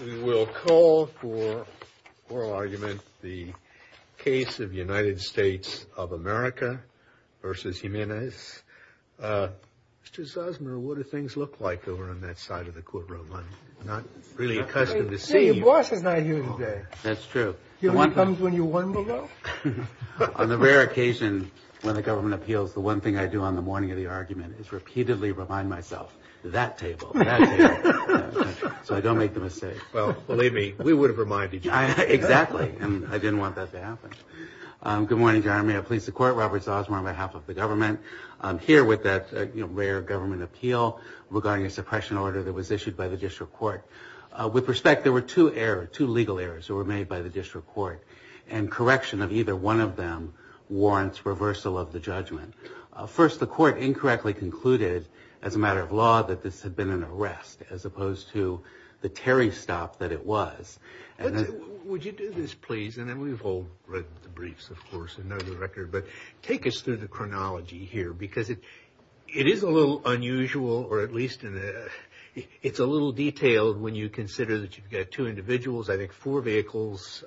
We will call for oral argument the case of United States of America v. Jiminez. Mr. Zosmer, what do things look like over on that side of the courtroom? I'm not really accustomed to seeing... Your boss is not here today. That's true. He only comes when you want him to go. On the rare occasion when the government appeals, the one thing I do on the morning of the argument is repeatedly remind myself, that table, that table, so I don't make the mistake. Well, believe me, we would have reminded you. Exactly, and I didn't want that to happen. Good morning, Your Honor. May I please the Court? Robert Zosmer on behalf of the government. I'm here with that rare government appeal regarding a suppression order that was issued by the district court. With respect, there were two errors, two legal errors that were made by the district court, and correction of either one of them warrants reversal of the judgment. First, the court incorrectly concluded as a matter of law that this had been an arrest, as opposed to the Terry stop that it was. Would you do this, please, and then we've all read the briefs, of course, and know the record, but take us through the chronology here, because it is a little unusual, or at least it's a little detailed when you consider that you've got two individuals, I think four vehicles,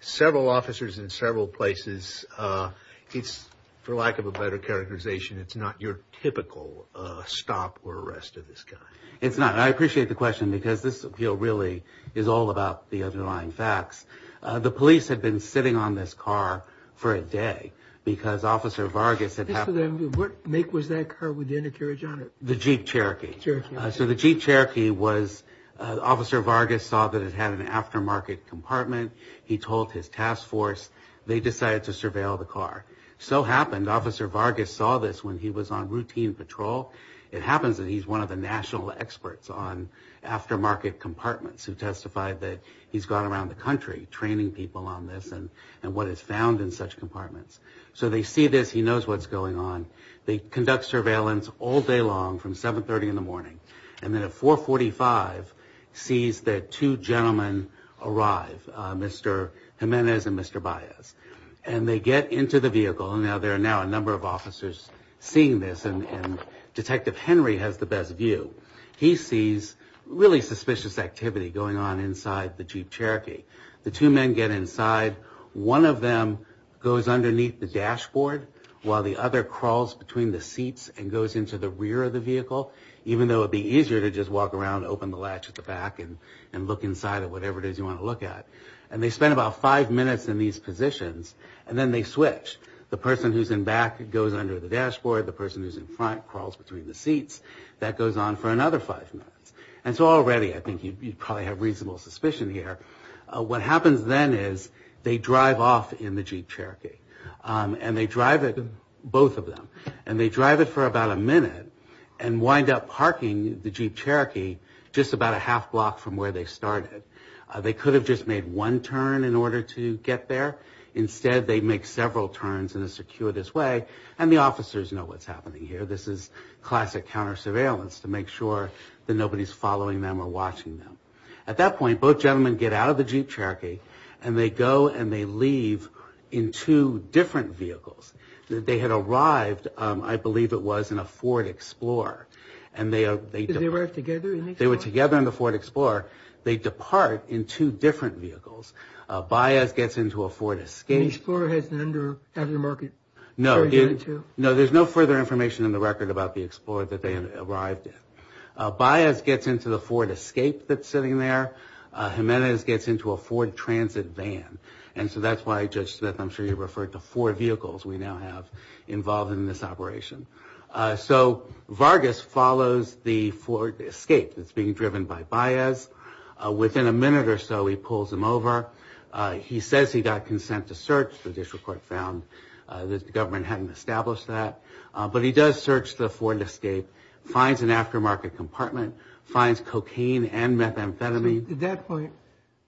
several officers in several places. It's, for lack of a better characterization, it's not your typical stop or arrest of this kind. It's not, and I appreciate the question, because this appeal really is all about the underlying facts. The police had been sitting on this car for a day, because Officer Vargas had happened. What make was that car with the intercourage on it? The Jeep Cherokee. The Jeep Cherokee. So the Jeep Cherokee was, Officer Vargas saw that it had an aftermarket compartment. He told his task force. They decided to surveil the car. So happened, Officer Vargas saw this when he was on routine patrol. It happens that he's one of the national experts on aftermarket compartments, who testified that he's gone around the country training people on this, and what is found in such compartments. So they see this. He knows what's going on. They conduct surveillance all day long from 730 in the morning, and then at 445 sees that two gentlemen arrive, Mr. Jimenez and Mr. Baez, and they get into the vehicle. Now, there are now a number of officers seeing this, and Detective Henry has the best view. He sees really suspicious activity going on inside the Jeep Cherokee. The two men get inside. One of them goes underneath the dashboard, while the other crawls between the seats and goes into the rear of the vehicle, even though it would be easier to just walk around, open the latch at the back, and look inside at whatever it is you want to look at. And they spend about five minutes in these positions, and then they switch. The person who's in back goes under the dashboard. The person who's in front crawls between the seats. That goes on for another five minutes. And so already I think you probably have reasonable suspicion here. What happens then is they drive off in the Jeep Cherokee, and they drive it, both of them, and they drive it for about a minute and wind up parking the Jeep Cherokee just about a half block from where they started. They could have just made one turn in order to get there. Instead, they make several turns in a circuitous way, and the officers know what's happening here. This is classic counter-surveillance to make sure that nobody's following them or watching them. At that point, both gentlemen get out of the Jeep Cherokee, and they go and they leave in two different vehicles. They had arrived, I believe it was, in a Ford Explorer. They arrived together in the Explorer? They were together in the Ford Explorer. They depart in two different vehicles. Baez gets into a Ford Escape. The Explorer has an under-market car, too? No, there's no further information in the record about the Explorer that they had arrived in. Baez gets into the Ford Escape that's sitting there. Jimenez gets into a Ford Transit van. And so that's why, Judge Smith, I'm sure you referred to four vehicles we now have involved in this operation. So Vargas follows the Ford Escape that's being driven by Baez. Within a minute or so, he pulls him over. He says he got consent to search. The judicial court found that the government hadn't established that. But he does search the Ford Escape, finds an aftermarket compartment, finds cocaine and methamphetamine. At that point,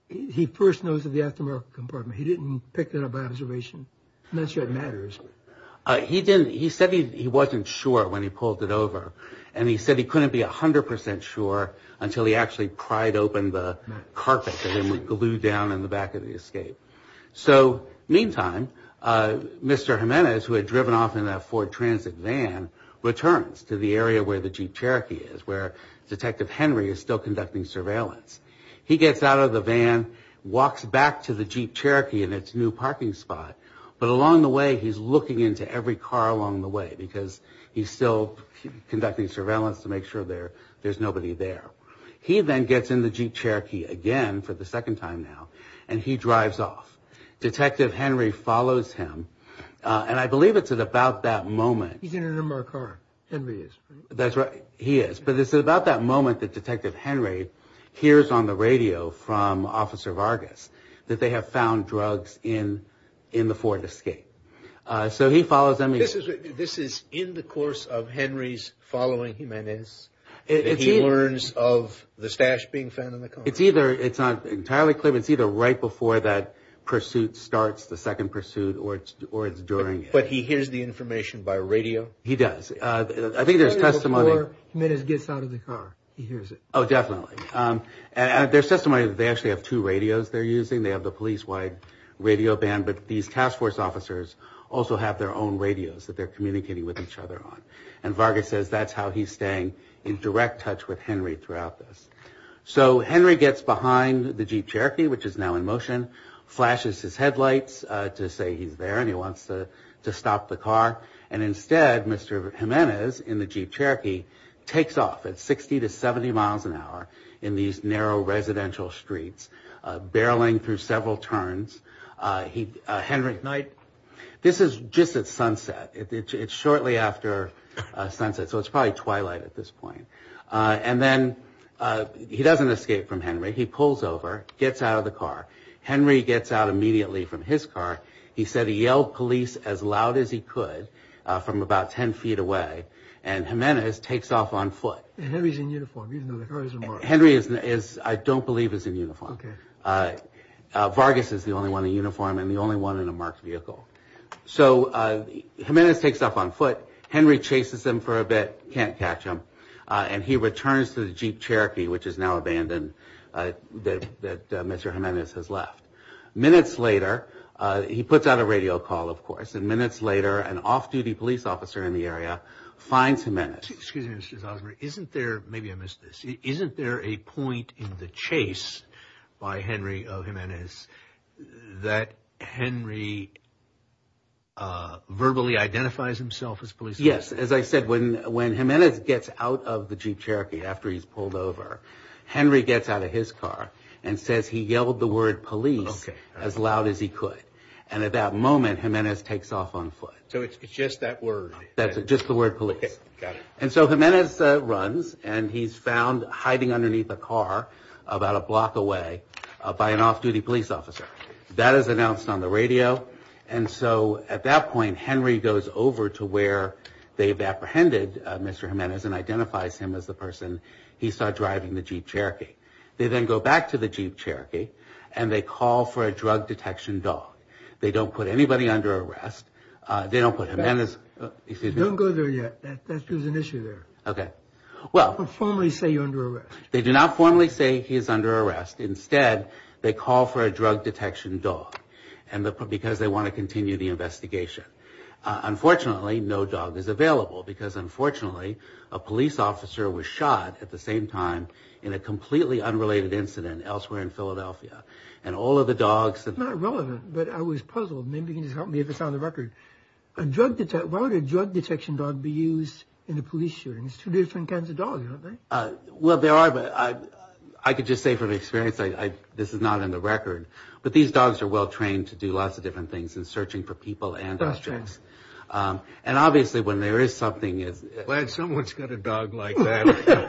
he first knows of the aftermarket compartment. He didn't pick that up by observation? I'm not sure it matters. He said he wasn't sure when he pulled it over. And he said he couldn't be 100% sure until he actually pried open the carpet that had been glued down in the back of the Escape. So meantime, Mr. Jimenez, who had driven off in that Ford Transit van, returns to the area where the Jeep Cherokee is, where Detective Henry is still conducting surveillance. He gets out of the van, walks back to the Jeep Cherokee in its new parking spot. But along the way, he's looking into every car along the way, because he's still conducting surveillance to make sure there's nobody there. He then gets in the Jeep Cherokee again for the second time now, and he drives off. Detective Henry follows him. And I believe it's at about that moment. He's in another car. Henry is. That's right. He is. But it's at about that moment that Detective Henry hears on the radio from Officer Vargas that they have found drugs in the Ford Escape. So he follows them. This is in the course of Henry's following Jimenez that he learns of the stash being found in the car? It's not entirely clear, but it's either right before that pursuit starts, the second pursuit, or it's during it. But he hears the information by radio? He does. I think there's testimony. He hears it before Jimenez gets out of the car. He hears it. Oh, definitely. There's testimony that they actually have two radios they're using. They have the police-wide radio band, but these task force officers also have their own radios that they're communicating with each other on. And Vargas says that's how he's staying in direct touch with Henry throughout this. So Henry gets behind the Jeep Cherokee, which is now in motion, flashes his headlights to say he's there and he wants to stop the car, and instead Mr. Jimenez in the Jeep Cherokee takes off at 60 to 70 miles an hour in these narrow residential streets, barreling through several turns. Henry, this is just at sunset. It's shortly after sunset, so it's probably twilight at this point. And then he doesn't escape from Henry. He pulls over, gets out of the car. Henry gets out immediately from his car. He said he yelled police as loud as he could from about 10 feet away, and Jimenez takes off on foot. Henry's in uniform. He doesn't know the car is a Mark. Henry is, I don't believe, is in uniform. Okay. Vargas is the only one in uniform and the only one in a Mark vehicle. So Jimenez takes off on foot. Henry chases him for a bit, can't catch him, and he returns to the Jeep Cherokee, which is now abandoned, that Mr. Jimenez has left. Minutes later, he puts out a radio call, of course, and minutes later an off-duty police officer in the area finds Jimenez. Excuse me, Mr. Zosmary. Isn't there, maybe I missed this, isn't there a point in the chase by Henry Jimenez that Henry verbally identifies himself as police? Yes. As I said, when Jimenez gets out of the Jeep Cherokee after he's pulled over, Henry gets out of his car and says he yelled the word police as loud as he could, and at that moment Jimenez takes off on foot. So it's just that word. Just the word police. Got it. And so Jimenez runs and he's found hiding underneath a car about a block away by an off-duty police officer. That is announced on the radio, and so at that point Henry goes over to where they've apprehended Mr. Jimenez and identifies him as the person he saw driving the Jeep Cherokee. They then go back to the Jeep Cherokee and they call for a drug detection dog. They don't put anybody under arrest. They don't put Jimenez. Don't go there yet. There's an issue there. Okay. Well. Don't formally say you're under arrest. They do not formally say he's under arrest. Instead, they call for a drug detection dog, because they want to continue the investigation. Unfortunately, no dog is available, because unfortunately a police officer was shot at the same time in a completely unrelated incident elsewhere in Philadelphia, and all of the dogs. Not relevant, but I was puzzled. Maybe you can just help me if it's on the record. Why would a drug detection dog be used in a police shooting? It's two different kinds of dogs, isn't it? Well, there are, but I could just say from experience this is not in the And obviously when there is something. Glad someone's got a dog like that.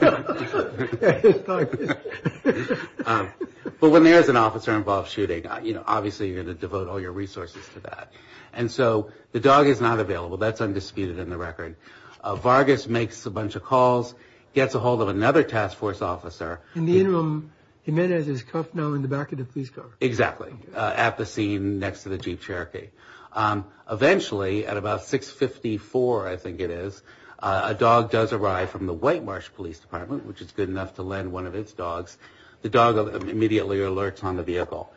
But when there is an officer involved in a shooting, obviously you're going to devote all your resources to that. And so the dog is not available. That's undisputed in the record. Vargas makes a bunch of calls, gets a hold of another task force officer. Jimenez is cuffed now in the back of the police car. Exactly. At the scene next to the Jeep Cherokee. Eventually, at about 6.54, I think it is, a dog does arrive from the White Marsh Police Department, which is good enough to lend one of its dogs. The dog immediately alerts on the vehicle.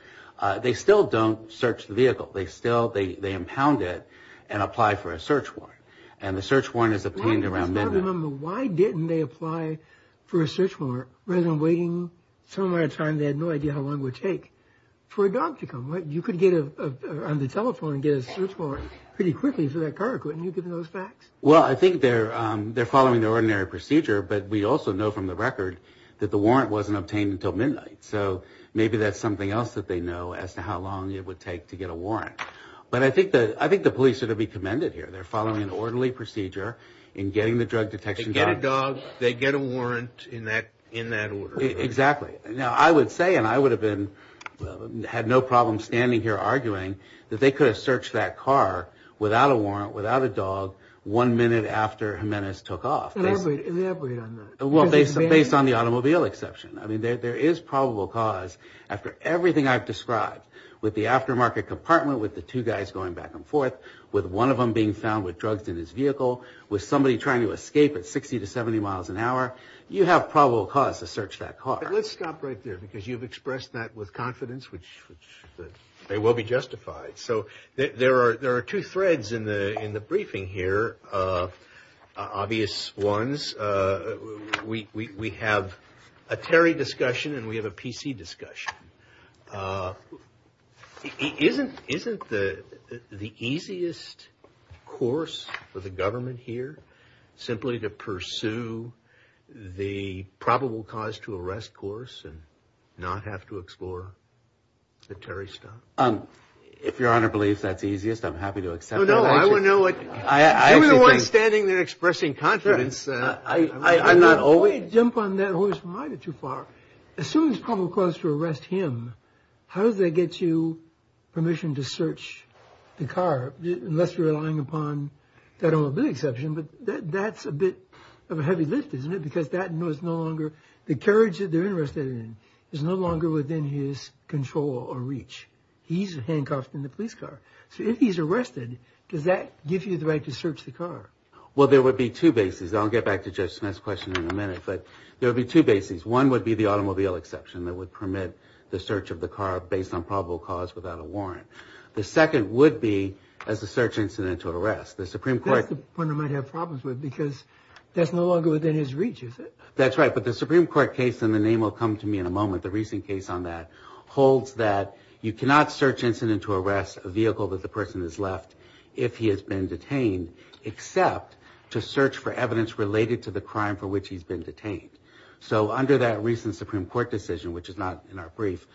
They still don't search the vehicle. They still impound it and apply for a search warrant. And the search warrant is obtained around midnight. Why didn't they apply for a search warrant rather than waiting? Some of the time they had no idea how long it would take for a dog to come. You could get on the telephone and get a search warrant pretty quickly for that car. Couldn't you have given those facts? Well, I think they're following the ordinary procedure. But we also know from the record that the warrant wasn't obtained until midnight. So maybe that's something else that they know as to how long it would take to get a warrant. But I think the police should be commended here. They're following an orderly procedure in getting the drug detection dog. They get a dog, they get a warrant in that order. Exactly. Now, I would say, and I would have had no problem standing here arguing, that they could have searched that car without a warrant, without a dog, one minute after Jimenez took off. Elaborate on that. Well, based on the automobile exception. I mean, there is probable cause after everything I've described, with the aftermarket compartment, with the two guys going back and forth, with one of them being found with drugs in his vehicle, with somebody trying to escape at 60 to 70 miles an hour. You have probable cause to search that car. Let's stop right there, because you've expressed that with confidence, which may well be justified. So there are two threads in the briefing here, obvious ones. We have a Terry discussion and we have a PC discussion. Isn't the easiest course for the government here, simply to pursue the probable cause to arrest course and not have to explore the Terry stuff? If Your Honor believes that's the easiest, I'm happy to accept that. No, no, I would know it. You're the one standing there expressing confidence. I'm not always. Before you jump on that horse from either too far, as soon as probable cause to arrest him, how does that get you permission to search the car, unless you're relying upon that own ability exception, but that's a bit of a heavy lift, isn't it? Because that no longer, the carriage that they're interested in, is no longer within his control or reach. He's handcuffed in the police car. So if he's arrested, does that give you the right to search the car? Well, there would be two bases. I'll get back to Judge Smith's question in a minute, but there would be two bases. One would be the automobile exception that would permit the search of the car based on probable cause without a warrant. The second would be as a search incident to arrest. That's the point I might have problems with, because that's no longer within his reach, is it? That's right, but the Supreme Court case, and the name will come to me in a moment, the recent case on that, holds that you cannot search incident to arrest a vehicle that the person has left if he has been detained except to search for evidence related to the crime for which he's been detained. So under that recent Supreme Court decision, which is not in our brief,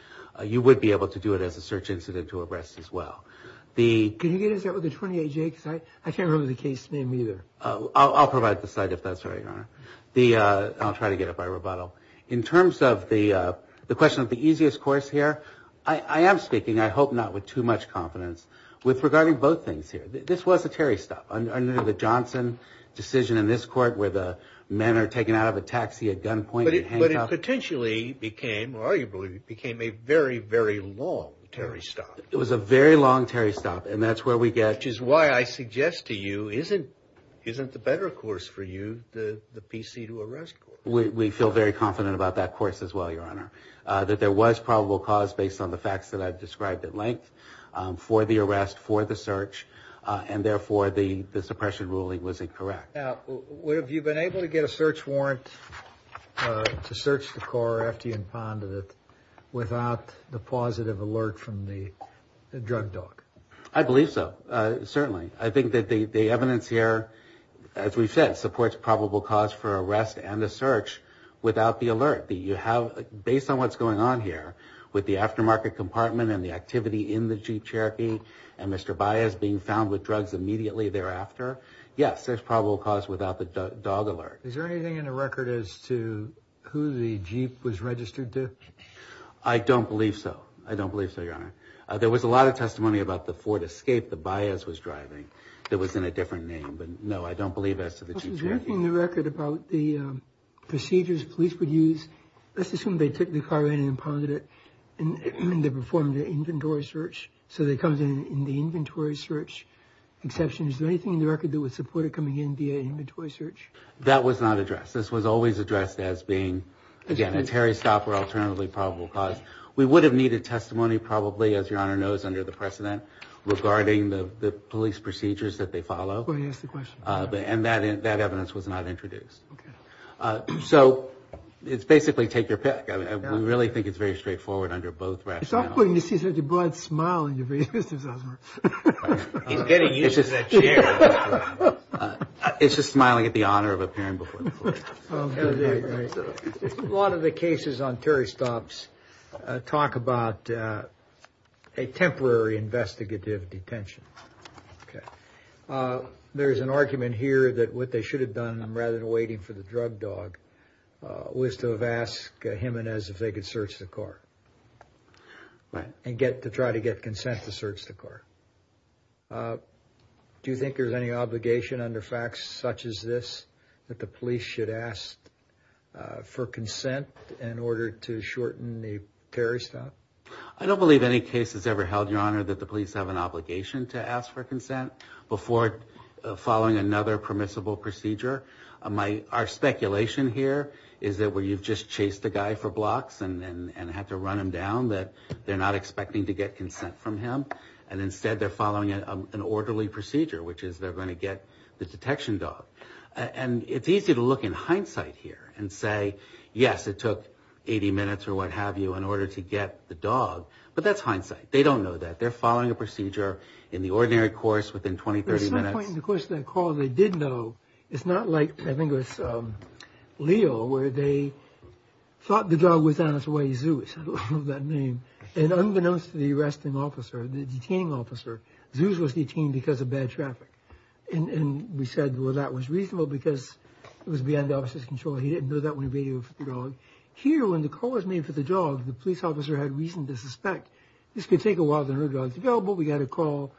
you would be able to do it as a search incident to arrest as well. Can you get us that with the 28J? Because I can't remember the case name either. I'll provide the site if that's right, Your Honor. I'll try to get it by rebuttal. In terms of the question of the easiest course here, I am speaking, I hope not with too much confidence, regarding both things here. This was a Terry stop under the Johnson decision in this court where the men are taken out of a taxi at gunpoint and handcuffed. But it potentially became, arguably, became a very, very long Terry stop. It was a very long Terry stop, and that's where we get... Which is why I suggest to you, isn't the better course for you the PC to arrest course? We feel very confident about that course as well, Your Honor, that there was probable cause based on the facts that I've described at length for the arrest, for the search, and therefore the suppression ruling was incorrect. Now, have you been able to get a search warrant to search the car after you impounded it without the positive alert from the drug dog? I believe so, certainly. I think that the evidence here, as we've said, supports probable cause for arrest and a search without the alert. Based on what's going on here with the aftermarket compartment and the activity in the Jeep Cherokee and Mr. Baez being found with drugs immediately thereafter, yes, there's probable cause without the dog alert. Is there anything in the record as to who the Jeep was registered to? I don't believe so. I don't believe so, Your Honor. There was a lot of testimony about the Ford Escape that Baez was driving that was in a different name, but no, I don't believe as to the Jeep Cherokee. Is there anything in the record about the procedures police would use? Let's assume they took the car in and impounded it, and they performed an inventory search, so they come in the inventory search exception. Is there anything in the record that would support it coming in via inventory search? That was not addressed. This was always addressed as being, again, a Terry Stopper alternatively probable cause. We would have needed testimony probably, as Your Honor knows, under the precedent regarding the police procedures that they follow. Well, you asked the question. And that evidence was not introduced. Okay. So it's basically take your pick. We really think it's very straightforward under both rationales. It's awkward when you see such a broad smile in your face, Mr. Zussman. He's getting used to that chair. It's just smiling at the honor of appearing before the court. A lot of the cases on Terry Stops talk about a temporary investigative detention. There's an argument here that what they should have done, rather than waiting for the drug dog, was to have asked Jimenez if they could search the car. Right. To try to get consent to search the car. Do you think there's any obligation under facts such as this that the police should ask for consent in order to shorten the Terry Stop? I don't believe any case has ever held, Your Honor, that the police have an obligation to ask for consent before following another permissible procedure. Our speculation here is that where you've just chased a guy for blocks and have to run him down, that they're not expecting to get consent from him. And instead they're following an orderly procedure, which is they're going to get the detection dog. And it's easy to look in hindsight here and say, yes, it took 80 minutes or what have you in order to get the dog. But that's hindsight. They don't know that. They're following a procedure in the ordinary course within 20, 30 minutes. There's some point in the course of that call they did know. It's not like, I think it was Leo, where they thought the dog was on its way to Zeus. I love that name. And unbeknownst to the arresting officer, the detaining officer, Zeus was detained because of bad traffic. And we said, well, that was reasonable because it was beyond the officer's control. He didn't know that when he radioed for the dog. Here, when the call was made for the dog, the police officer had reason to suspect, this could take a while to have the dog available. We've got to call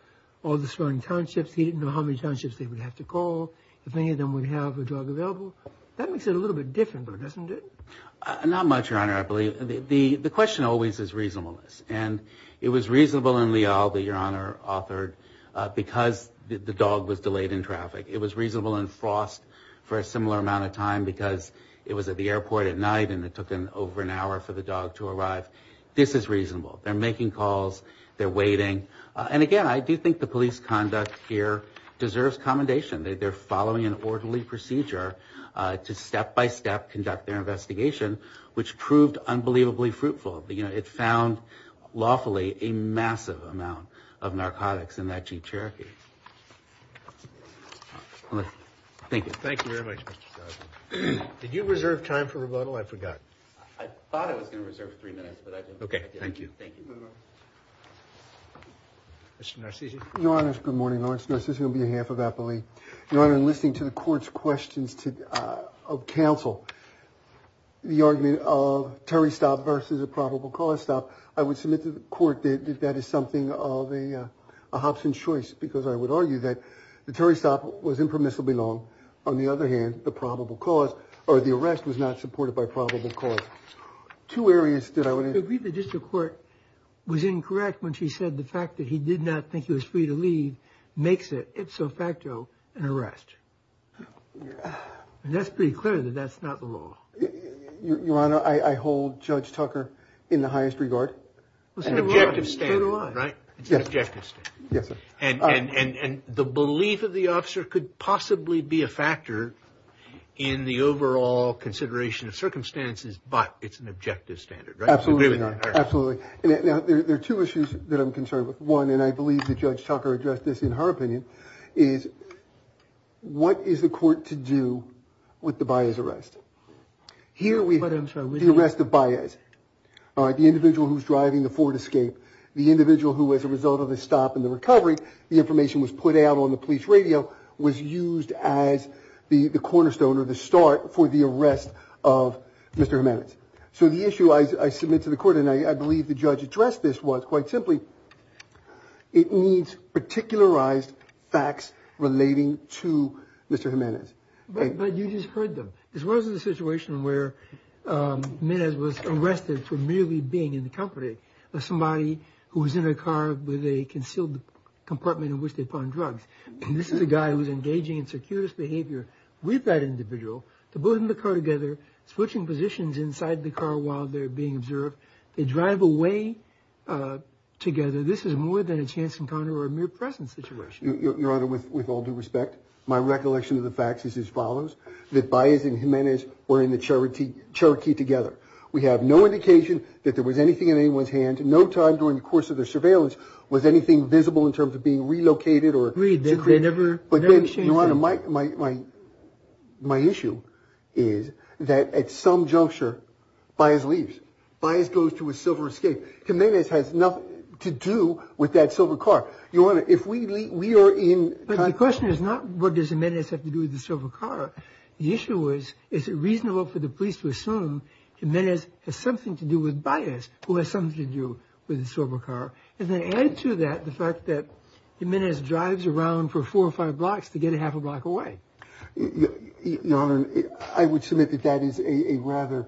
all the surrounding townships. He didn't know how many townships they would have to call if any of them would have a dog available. That makes it a little bit different, but it doesn't, does it? Not much, Your Honor, I believe. The question always is reasonableness. And it was reasonable in Leal that Your Honor authored because the dog was delayed in traffic. It was reasonable in Frost for a similar amount of time because it was at the airport at night and it took over an hour for the dog to arrive. This is reasonable. They're making calls. They're waiting. And again, I do think the police conduct here deserves commendation. They're following an orderly procedure to step-by-step conduct their investigation, which proved unbelievably fruitful. It found, lawfully, a massive amount of narcotics in that Jeep Cherokee. Thank you. Thank you very much, Mr. Garza. Did you reserve time for rebuttal? I forgot. I thought I was going to reserve three minutes, but I didn't. Okay, thank you. Thank you. Mr. Narcisi. Your Honor, good morning. Your Honor, this is going to be a half of appellee. Your Honor, in listening to the Court's questions of counsel, the argument of Terry's stop versus a probable cause stop, I would submit to the Court that that is something of a Hobson's choice because I would argue that the Terry's stop was impermissibly long. On the other hand, the probable cause or the arrest was not supported by probable cause. Two areas that I would... I agree that the District Court was incorrect when she said the fact that he did not think he was free to leave makes it, ipso facto, an arrest. And that's pretty clear that that's not the law. Your Honor, I hold Judge Tucker in the highest regard. It's an objective standard, right? It's an objective standard. Yes, sir. And the belief of the officer could possibly be a factor in the overall consideration of circumstances, but it's an objective standard, right? Absolutely, Your Honor. Absolutely. Now, there are two issues that I'm concerned with. One, and I believe that Judge Tucker addressed this in her opinion, is what is the Court to do with the Baez arrest? Here we have the arrest of Baez, the individual who's driving the Ford Escape, the individual who, as a result of the stop and the recovery, the information was put out on the police radio, was used as the cornerstone or the start for the arrest of Mr. Jimenez. So the issue I submit to the Court, and I believe the judge addressed this was, quite simply, it needs particularized facts relating to Mr. Jimenez. But you just heard them. As far as the situation where Jimenez was arrested for merely being in the company of somebody who was in a car with a concealed compartment in which they find drugs, and this is a guy who's engaging in circuitous behavior with that individual, to put him in the car together, switching positions inside the car while they're being observed, they drive away together, this is more than a chance encounter or a mere presence situation. Your Honor, with all due respect, my recollection of the facts is as follows, that Baez and Jimenez were in the Cherokee together. We have no indication that there was anything in anyone's hand. No time during the course of their surveillance was anything visible in terms of being relocated. Agreed, they never exchanged hands. Your Honor, my issue is that at some juncture, Baez leaves. Baez goes to a silver escape. Jimenez has nothing to do with that silver car. Your Honor, if we are in… But the question is not what does Jimenez have to do with the silver car. The issue is, is it reasonable for the police to assume Jimenez has something to do with Baez, who has something to do with the silver car? And then add to that the fact that Jimenez drives around for four or five blocks to get a half a block away. Your Honor, I would submit that that is a rather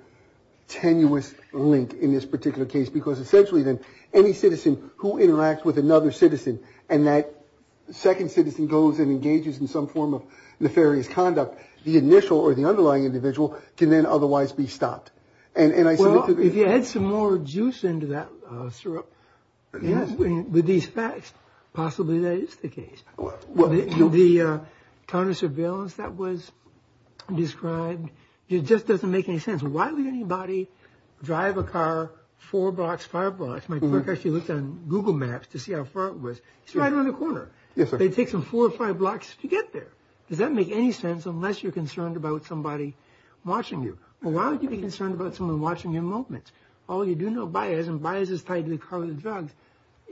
tenuous link in this particular case because essentially then any citizen who interacts with another citizen and that second citizen goes and engages in some form of nefarious conduct, the initial or the underlying individual can then otherwise be stopped. Well, if you add some more juice into that syrup with these facts, possibly that is the case. The kind of surveillance that was described, it just doesn't make any sense. Why would anybody drive a car four blocks, five blocks? My clerk actually looked on Google Maps to see how far it was. It's right around the corner. Yes, sir. It takes them four or five blocks to get there. Does that make any sense unless you're concerned about somebody watching you? Well, why would you be concerned about someone watching your movements? All you do know, Baez, and Baez is tied to the car with the drugs,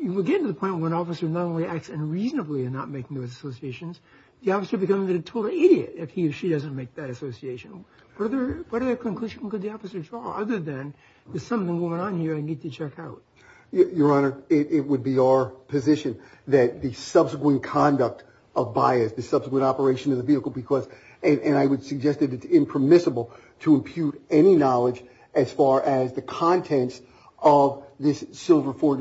you would get to the point where an officer not only acts unreasonably in not making those associations, the officer becomes a total idiot if he or she doesn't make that association. What other conclusion could the officer draw other than there's something going on here I need to check out? Your Honor, it would be our position that the subsequent conduct of Baez, the subsequent operation of the vehicle because, and I would suggest that it's impermissible to impute any knowledge as far as the contents of this Ford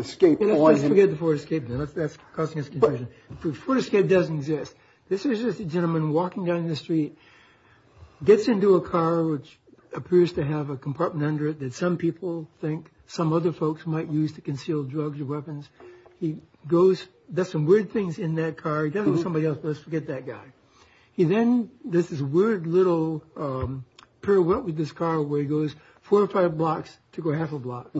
Escape. Let's forget the Ford Escape then. That's causing us confusion. The Ford Escape doesn't exist. This is just a gentleman walking down the street, gets into a car which appears to have a compartment under it that some people think some other folks might use to conceal drugs or weapons. He does some weird things in that car. He doesn't know somebody else, but let's forget that guy. He then does this weird little pirouette with this car where he goes four or five blocks to go half a block.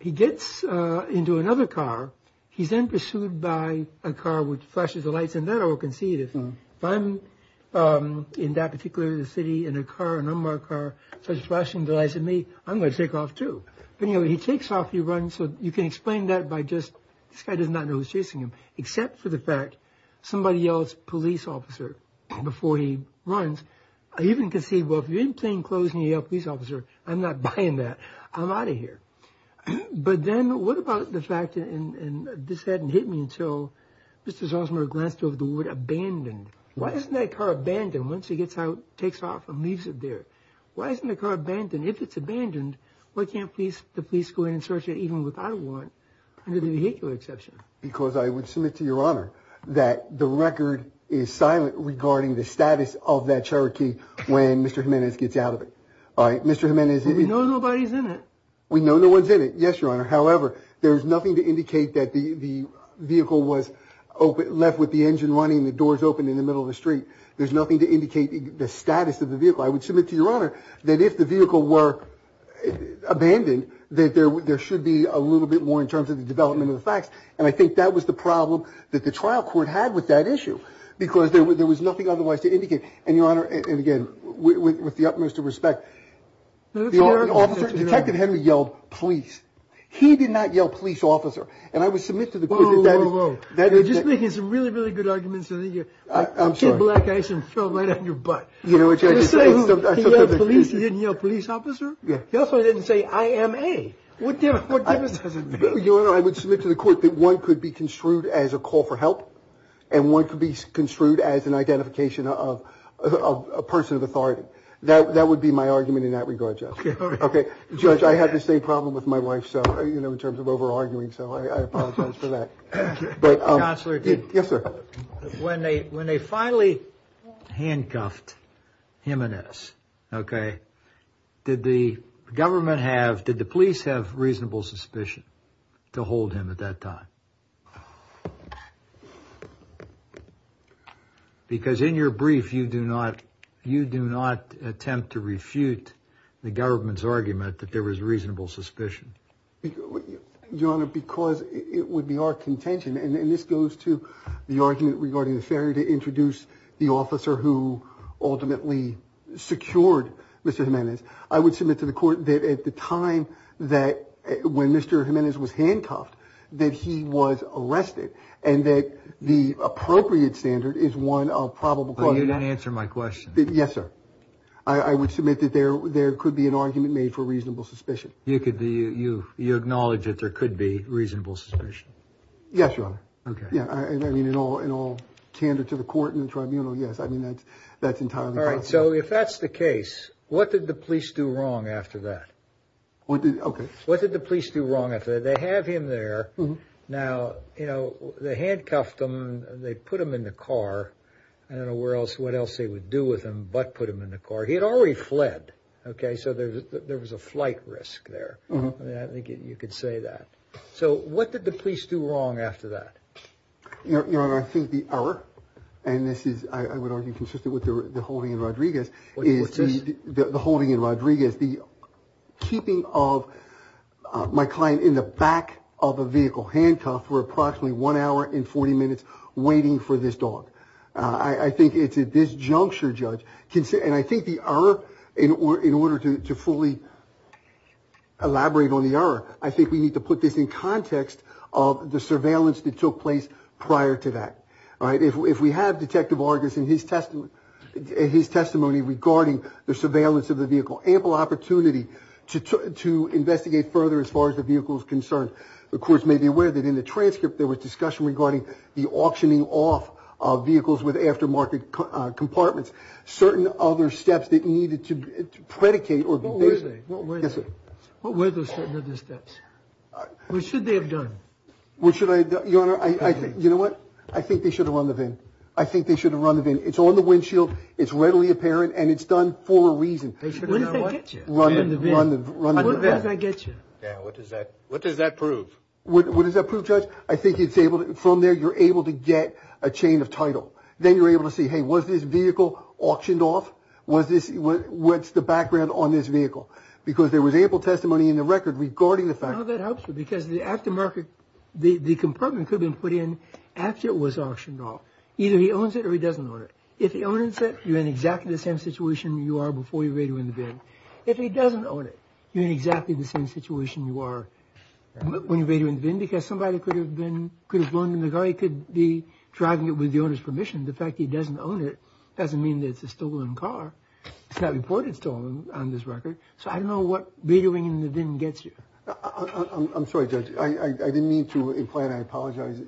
He gets into another car. He's then pursued by a car which flashes the lights in that I will concede. If I'm in that particular city in a car, an unmarked car, starts flashing the lights at me, I'm going to take off too. But anyway, he takes off, he runs. So you can explain that by just this guy does not know who's chasing him, except for the fact somebody yells police officer before he runs. I even concede, well, if you're in plain clothes and you yell police officer, I'm not buying that. I'm out of here. But then what about the fact, and this hadn't hit me until Mr. Zalsmer glanced over the wood, abandoned. Why isn't that car abandoned once he gets out, takes off and leaves it there? Why isn't the car abandoned? If it's abandoned, why can't the police go in and search it even without a warrant under the vehicular exception? Because I would submit to Your Honor that the record is silent regarding the status of that Cherokee when Mr. Jimenez gets out of it. All right, Mr. Jimenez. We know nobody's in it. We know no one's in it. Yes, Your Honor. However, there's nothing to indicate that the vehicle was left with the engine running and the doors open in the middle of the street. There's nothing to indicate the status of the vehicle. I would submit to Your Honor that if the vehicle were abandoned, that there should be a little bit more in terms of the development of the facts. And I think that was the problem that the trial court had with that issue because there was nothing otherwise to indicate. And, Your Honor, and again, with the utmost of respect, the officer, Detective Henry, yelled police. He did not yell police officer. And I would submit to the court that that is. Whoa, whoa, whoa. You're just making some really, really good arguments. I'm sorry. Kid Black Eisen fell right on your butt. You know what you're saying? He yelled police. He didn't yell police officer? Yeah. He also didn't say I am a. What difference does it make? Your Honor, I would submit to the court that one could be construed as a call for help, and one could be construed as an identification of a person of authority. That would be my argument in that regard, Judge. Okay. Judge, I had the same problem with my wife, so, you know, in terms of over-arguing. So I apologize for that. Counselor. Yes, sir. When they finally handcuffed him and us, okay, did the government have, did the police have reasonable suspicion to hold him at that time? Because in your brief, you do not attempt to refute the government's argument that there was reasonable suspicion. Your Honor, because it would be our contention, and this goes to the argument regarding the failure to introduce the officer who ultimately secured Mr. Jimenez, I would submit to the court that at the time that, when Mr. Jimenez was handcuffed, that he was arrested, and that the appropriate standard is one of probable cause. But you didn't answer my question. Yes, sir. I would submit that there could be an argument made for reasonable suspicion. You acknowledge that there could be reasonable suspicion? Yes, Your Honor. Okay. I mean, in all candor to the court and the tribunal, yes, I mean, that's entirely possible. All right. So if that's the case, what did the police do wrong after that? What did, okay. What did the police do wrong after that? They have him there. Now, you know, they handcuffed him. They put him in the car. I don't know where else, what else they would do with him but put him in the car. He had already fled, okay, so there was a flight risk there. I think you could say that. So what did the police do wrong after that? Your Honor, I think the error, and this is, I would argue, consistent with the holding in Rodriguez, is the holding in Rodriguez, the keeping of my client in the back of a vehicle, handcuffed for approximately one hour and 40 minutes, waiting for this dog. I think it's a disjuncture, Judge, and I think the error, in order to fully elaborate on the error, I think we need to put this in context of the surveillance that took place prior to that. All right, if we have Detective Vargas and his testimony regarding the surveillance of the vehicle, ample opportunity to investigate further as far as the vehicle is concerned. The courts may be aware that in the transcript there was discussion regarding the auctioning off of vehicles with aftermarket compartments, certain other steps that needed to predicate or be based. What were they? Yes, sir. What were those certain other steps? What should they have done? What should I have done? Your Honor, you know what? I think they should have run the VIN. I think they should have run the VIN. It's on the windshield, it's readily apparent, and it's done for a reason. What does that get you? Run the VIN. Run the VIN. What does that get you? What does that prove? What does that prove, Judge? I think from there you're able to get a chain of title. Then you're able to see, hey, was this vehicle auctioned off? What's the background on this vehicle? Because there was ample testimony in the record regarding the fact that the compartment could have been put in after it was auctioned off. Either he owns it or he doesn't own it. If he owns it, you're in exactly the same situation you are before you radio in the VIN. If he doesn't own it, you're in exactly the same situation you are when you radio in the VIN because somebody could have flown in the car. He could be driving it with the owner's permission. The fact he doesn't own it doesn't mean that it's a stolen car. It's not reported stolen on this record. So I don't know what radioing in the VIN gets you. I'm sorry, Judge. I didn't mean to imply, and I apologize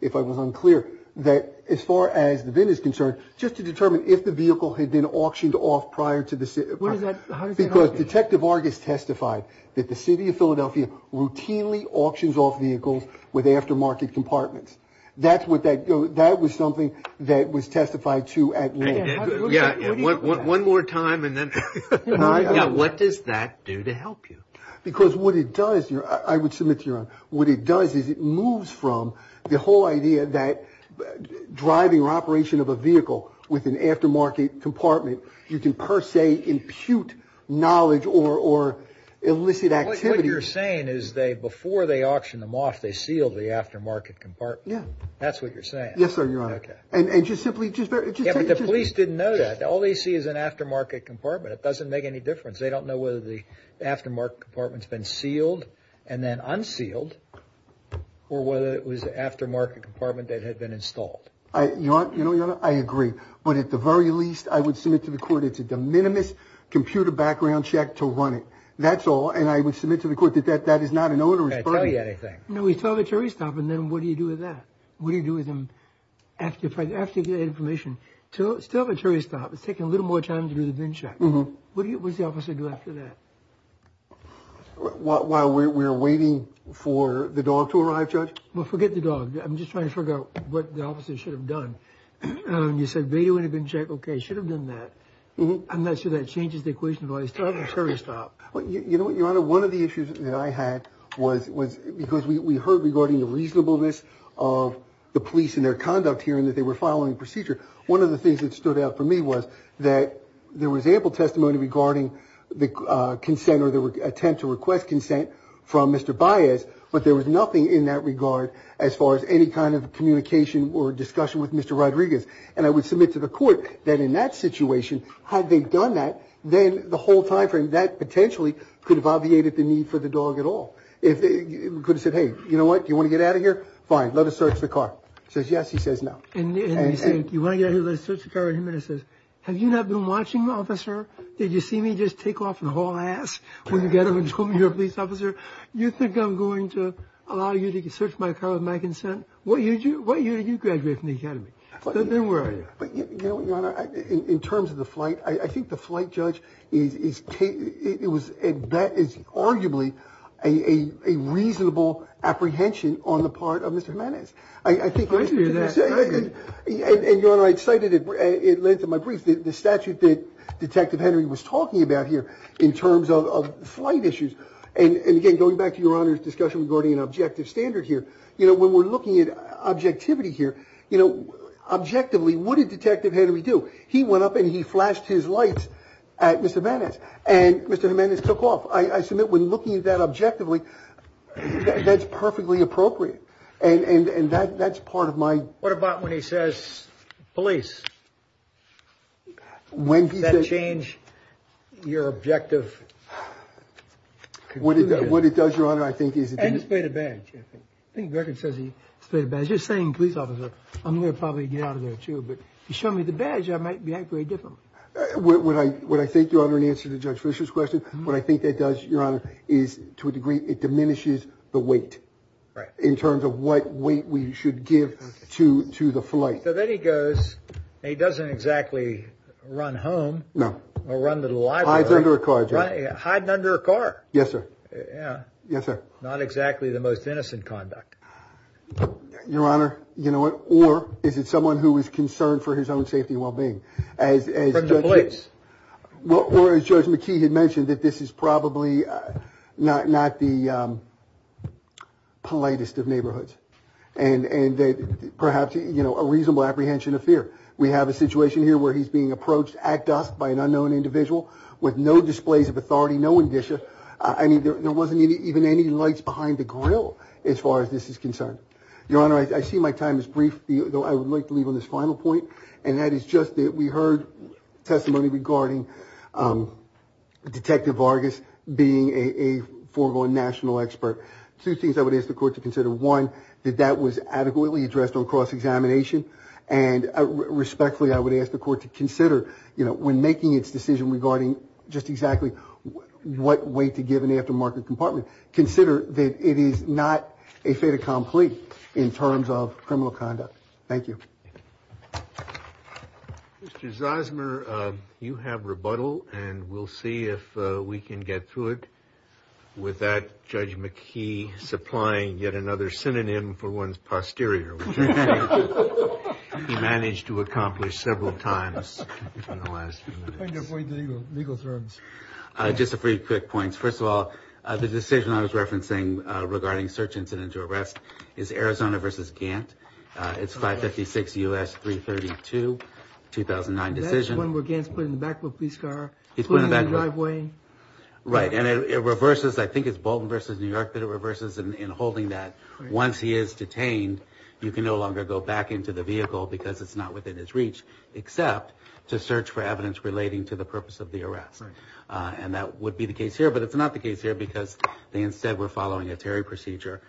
if I was unclear, that as far as the VIN is concerned, just to determine if the vehicle had been auctioned off prior to the city. Because Detective Argus testified that the city of Philadelphia routinely auctions off vehicles with aftermarket compartments. That was something that was testified to at law. Yeah. One more time and then. What does that do to help you? Because what it does, I would submit to Your Honor, what it does is it moves from the whole idea that driving or operation of a vehicle with an aftermarket compartment, you can per se impute knowledge or illicit activity. What you're saying is before they auction them off, they seal the aftermarket compartment. Yeah. That's what you're saying. Yes, sir, Your Honor. Okay. And just simply. Yeah, but the police didn't know that. All they see is an aftermarket compartment. It doesn't make any difference. They don't know whether the aftermarket compartment's been sealed and then unsealed or whether it was an aftermarket compartment that had been installed. Your Honor, I agree. But at the very least, I would submit to the court it's a de minimis computer background check to run it. That's all. And I would submit to the court that that is not an owner's burden. I can't tell you anything. No, we still have a jury stop. And then what do you do with that? What do you do with them after you get that information? Still have a jury stop. It's taking a little more time to do the VIN check. What does the officer do after that? While we're waiting for the dog to arrive, Judge? Well, forget the dog. I'm just trying to figure out what the officer should have done. You said VIN check. Okay. Should have done that. I'm not sure that changes the equation. Still have a jury stop. You know what, Your Honor? One of the issues that I had was because we heard regarding the reasonableness of the police and their conduct here and that they were following procedure. One of the things that stood out for me was that there was ample testimony regarding the consent or the attempt to request consent from Mr. Baez. But there was nothing in that regard as far as any kind of communication or discussion with Mr. Rodriguez. And I would submit to the court that in that situation, had they done that, then the whole time frame, that potentially could have obviated the need for the dog at all. It could have said, hey, you know what, do you want to get out of here? Fine. Let us search the car. He says yes. He says no. And you say, do you want to get out of here? Let us search the car. And he says, have you not been watching, officer? Did you see me just take off and haul ass when you got up and told me you're a police officer? You think I'm going to allow you to search my car with my consent? What year did you graduate from the academy? Then where are you? But, you know what, Your Honor, in terms of the flight, I think the flight judge, that is arguably a reasonable apprehension on the part of Mr. Jimenez. I hear that. And, Your Honor, I cited at length in my brief the statute that Detective Henry was talking about here in terms of flight issues. And, again, going back to Your Honor's discussion regarding an objective standard here, you know, when we're looking at objectivity here, you know, objectively, what did Detective Henry do? He went up and he flashed his lights at Mr. Jimenez, and Mr. Jimenez took off. I submit when looking at that objectively, that's perfectly appropriate. And that's part of my – What about when he says police? When he says – Does that change your objective? What it does, Your Honor, I think is – And he's paid a badge. I think the record says he's paid a badge. You're saying, police officer, I'm going to probably get out of there too, but if you show me the badge, I might react very differently. What I think, Your Honor, in answer to Judge Fischer's question, what I think that does, Your Honor, is to a degree it diminishes the weight in terms of what weight we should give to the flight. So then he goes – he doesn't exactly run home. No. Or run to the library. Hiding under a car. Hiding under a car. Yes, sir. Yeah. Yes, sir. Not exactly the most innocent conduct. Your Honor, you know what? Or is it someone who is concerned for his own safety and well-being? From the police. Well, as Judge McKee had mentioned, that this is probably not the politest of neighborhoods. And perhaps, you know, a reasonable apprehension of fear. We have a situation here where he's being approached at dusk by an unknown individual with no displays of authority, no indicia. I mean, there wasn't even any lights behind the grill as far as this is concerned. Your Honor, I see my time is brief, though I would like to leave on this final point, and that is just that we heard testimony regarding Detective Vargas being a foregone national expert. Two things I would ask the Court to consider. One, that that was adequately addressed on cross-examination. And respectfully, I would ask the Court to consider, you know, when making its decision regarding just exactly what weight to give an aftermarket compartment, consider that it is not a fait accompli in terms of criminal conduct. Thank you. Mr. Zosmer, you have rebuttal and we'll see if we can get through it without Judge McKee supplying yet another synonym for one's posterior, which he managed to accomplish several times in the last few minutes. I'm going to avoid the legal terms. Just a few quick points. First of all, the decision I was referencing regarding search incident to arrest is Arizona v. Gantt. It's 556 U.S. 332, 2009 decision. That is one where Gantt is put in the back of a police car, put in the driveway. Right, and it reverses, I think it's Bolton v. New York that it reverses in holding that. Once he is detained, you can no longer go back into the vehicle because it's not within his reach, except to search for evidence relating to the purpose of the arrest. And that would be the case here, but it's not the case here because they instead were following a Terry procedure.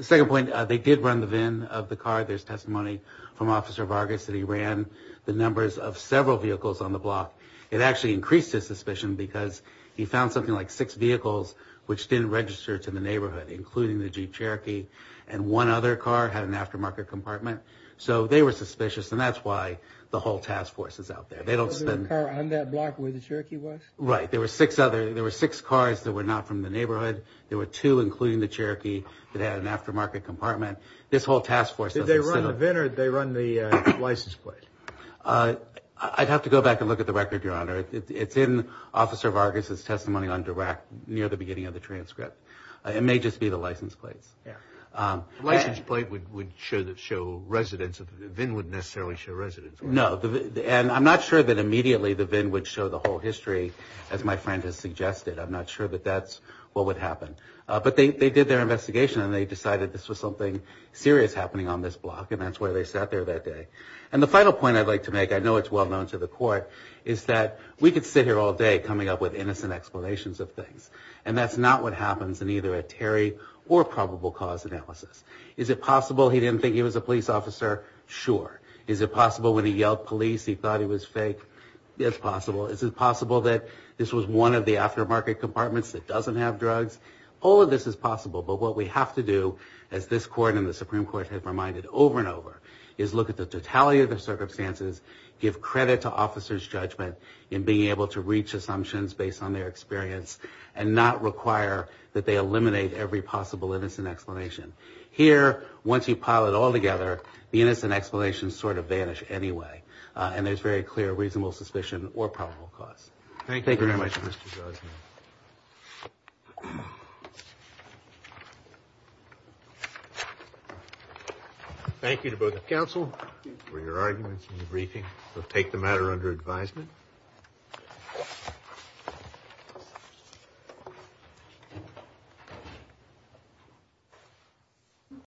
Second point, they did run the VIN of the car. There's testimony from Officer Vargas that he ran the numbers of several vehicles on the block. It actually increased his suspicion because he found something like six vehicles which didn't register to the neighborhood, including the Jeep Cherokee, and one other car had an aftermarket compartment. So they were suspicious, and that's why the whole task force is out there. They don't spend... On that block where the Cherokee was? Right. There were six cars that were not from the neighborhood. There were two, including the Cherokee, that had an aftermarket compartment. This whole task force... Did they run the VIN or did they run the license plate? I'd have to go back and look at the record, Your Honor. It's in Officer Vargas' testimony under WAC near the beginning of the transcript. It may just be the license plates. Yeah. The license plate would show residents. The VIN wouldn't necessarily show residents. No, and I'm not sure that immediately the VIN would show the whole history, as my friend has suggested. I'm not sure that that's what would happen. But they did their investigation, and they decided this was something serious happening on this block, and that's why they sat there that day. And the final point I'd like to make, I know it's well known to the court, is that we could sit here all day coming up with innocent explanations of things, and that's not what happens in either a Terry or probable cause analysis. Is it possible he didn't think he was a police officer? Sure. Is it possible when he yelled police he thought he was fake? It's possible. Is it possible that this was one of the aftermarket compartments that doesn't have drugs? All of this is possible, but what we have to do, as this court and the Supreme Court have reminded over and over, is look at the totality of the circumstances, give credit to officers' judgment in being able to reach assumptions based on their experience, and not require that they eliminate every possible innocent explanation. Here, once you pile it all together, the innocent explanations sort of vanish anyway, and there's very clear reasonable suspicion or probable cause. Thank you very much, Mr. Gosnell. Thank you to both the counsel for your arguments and your briefing. We'll take the matter under advisement.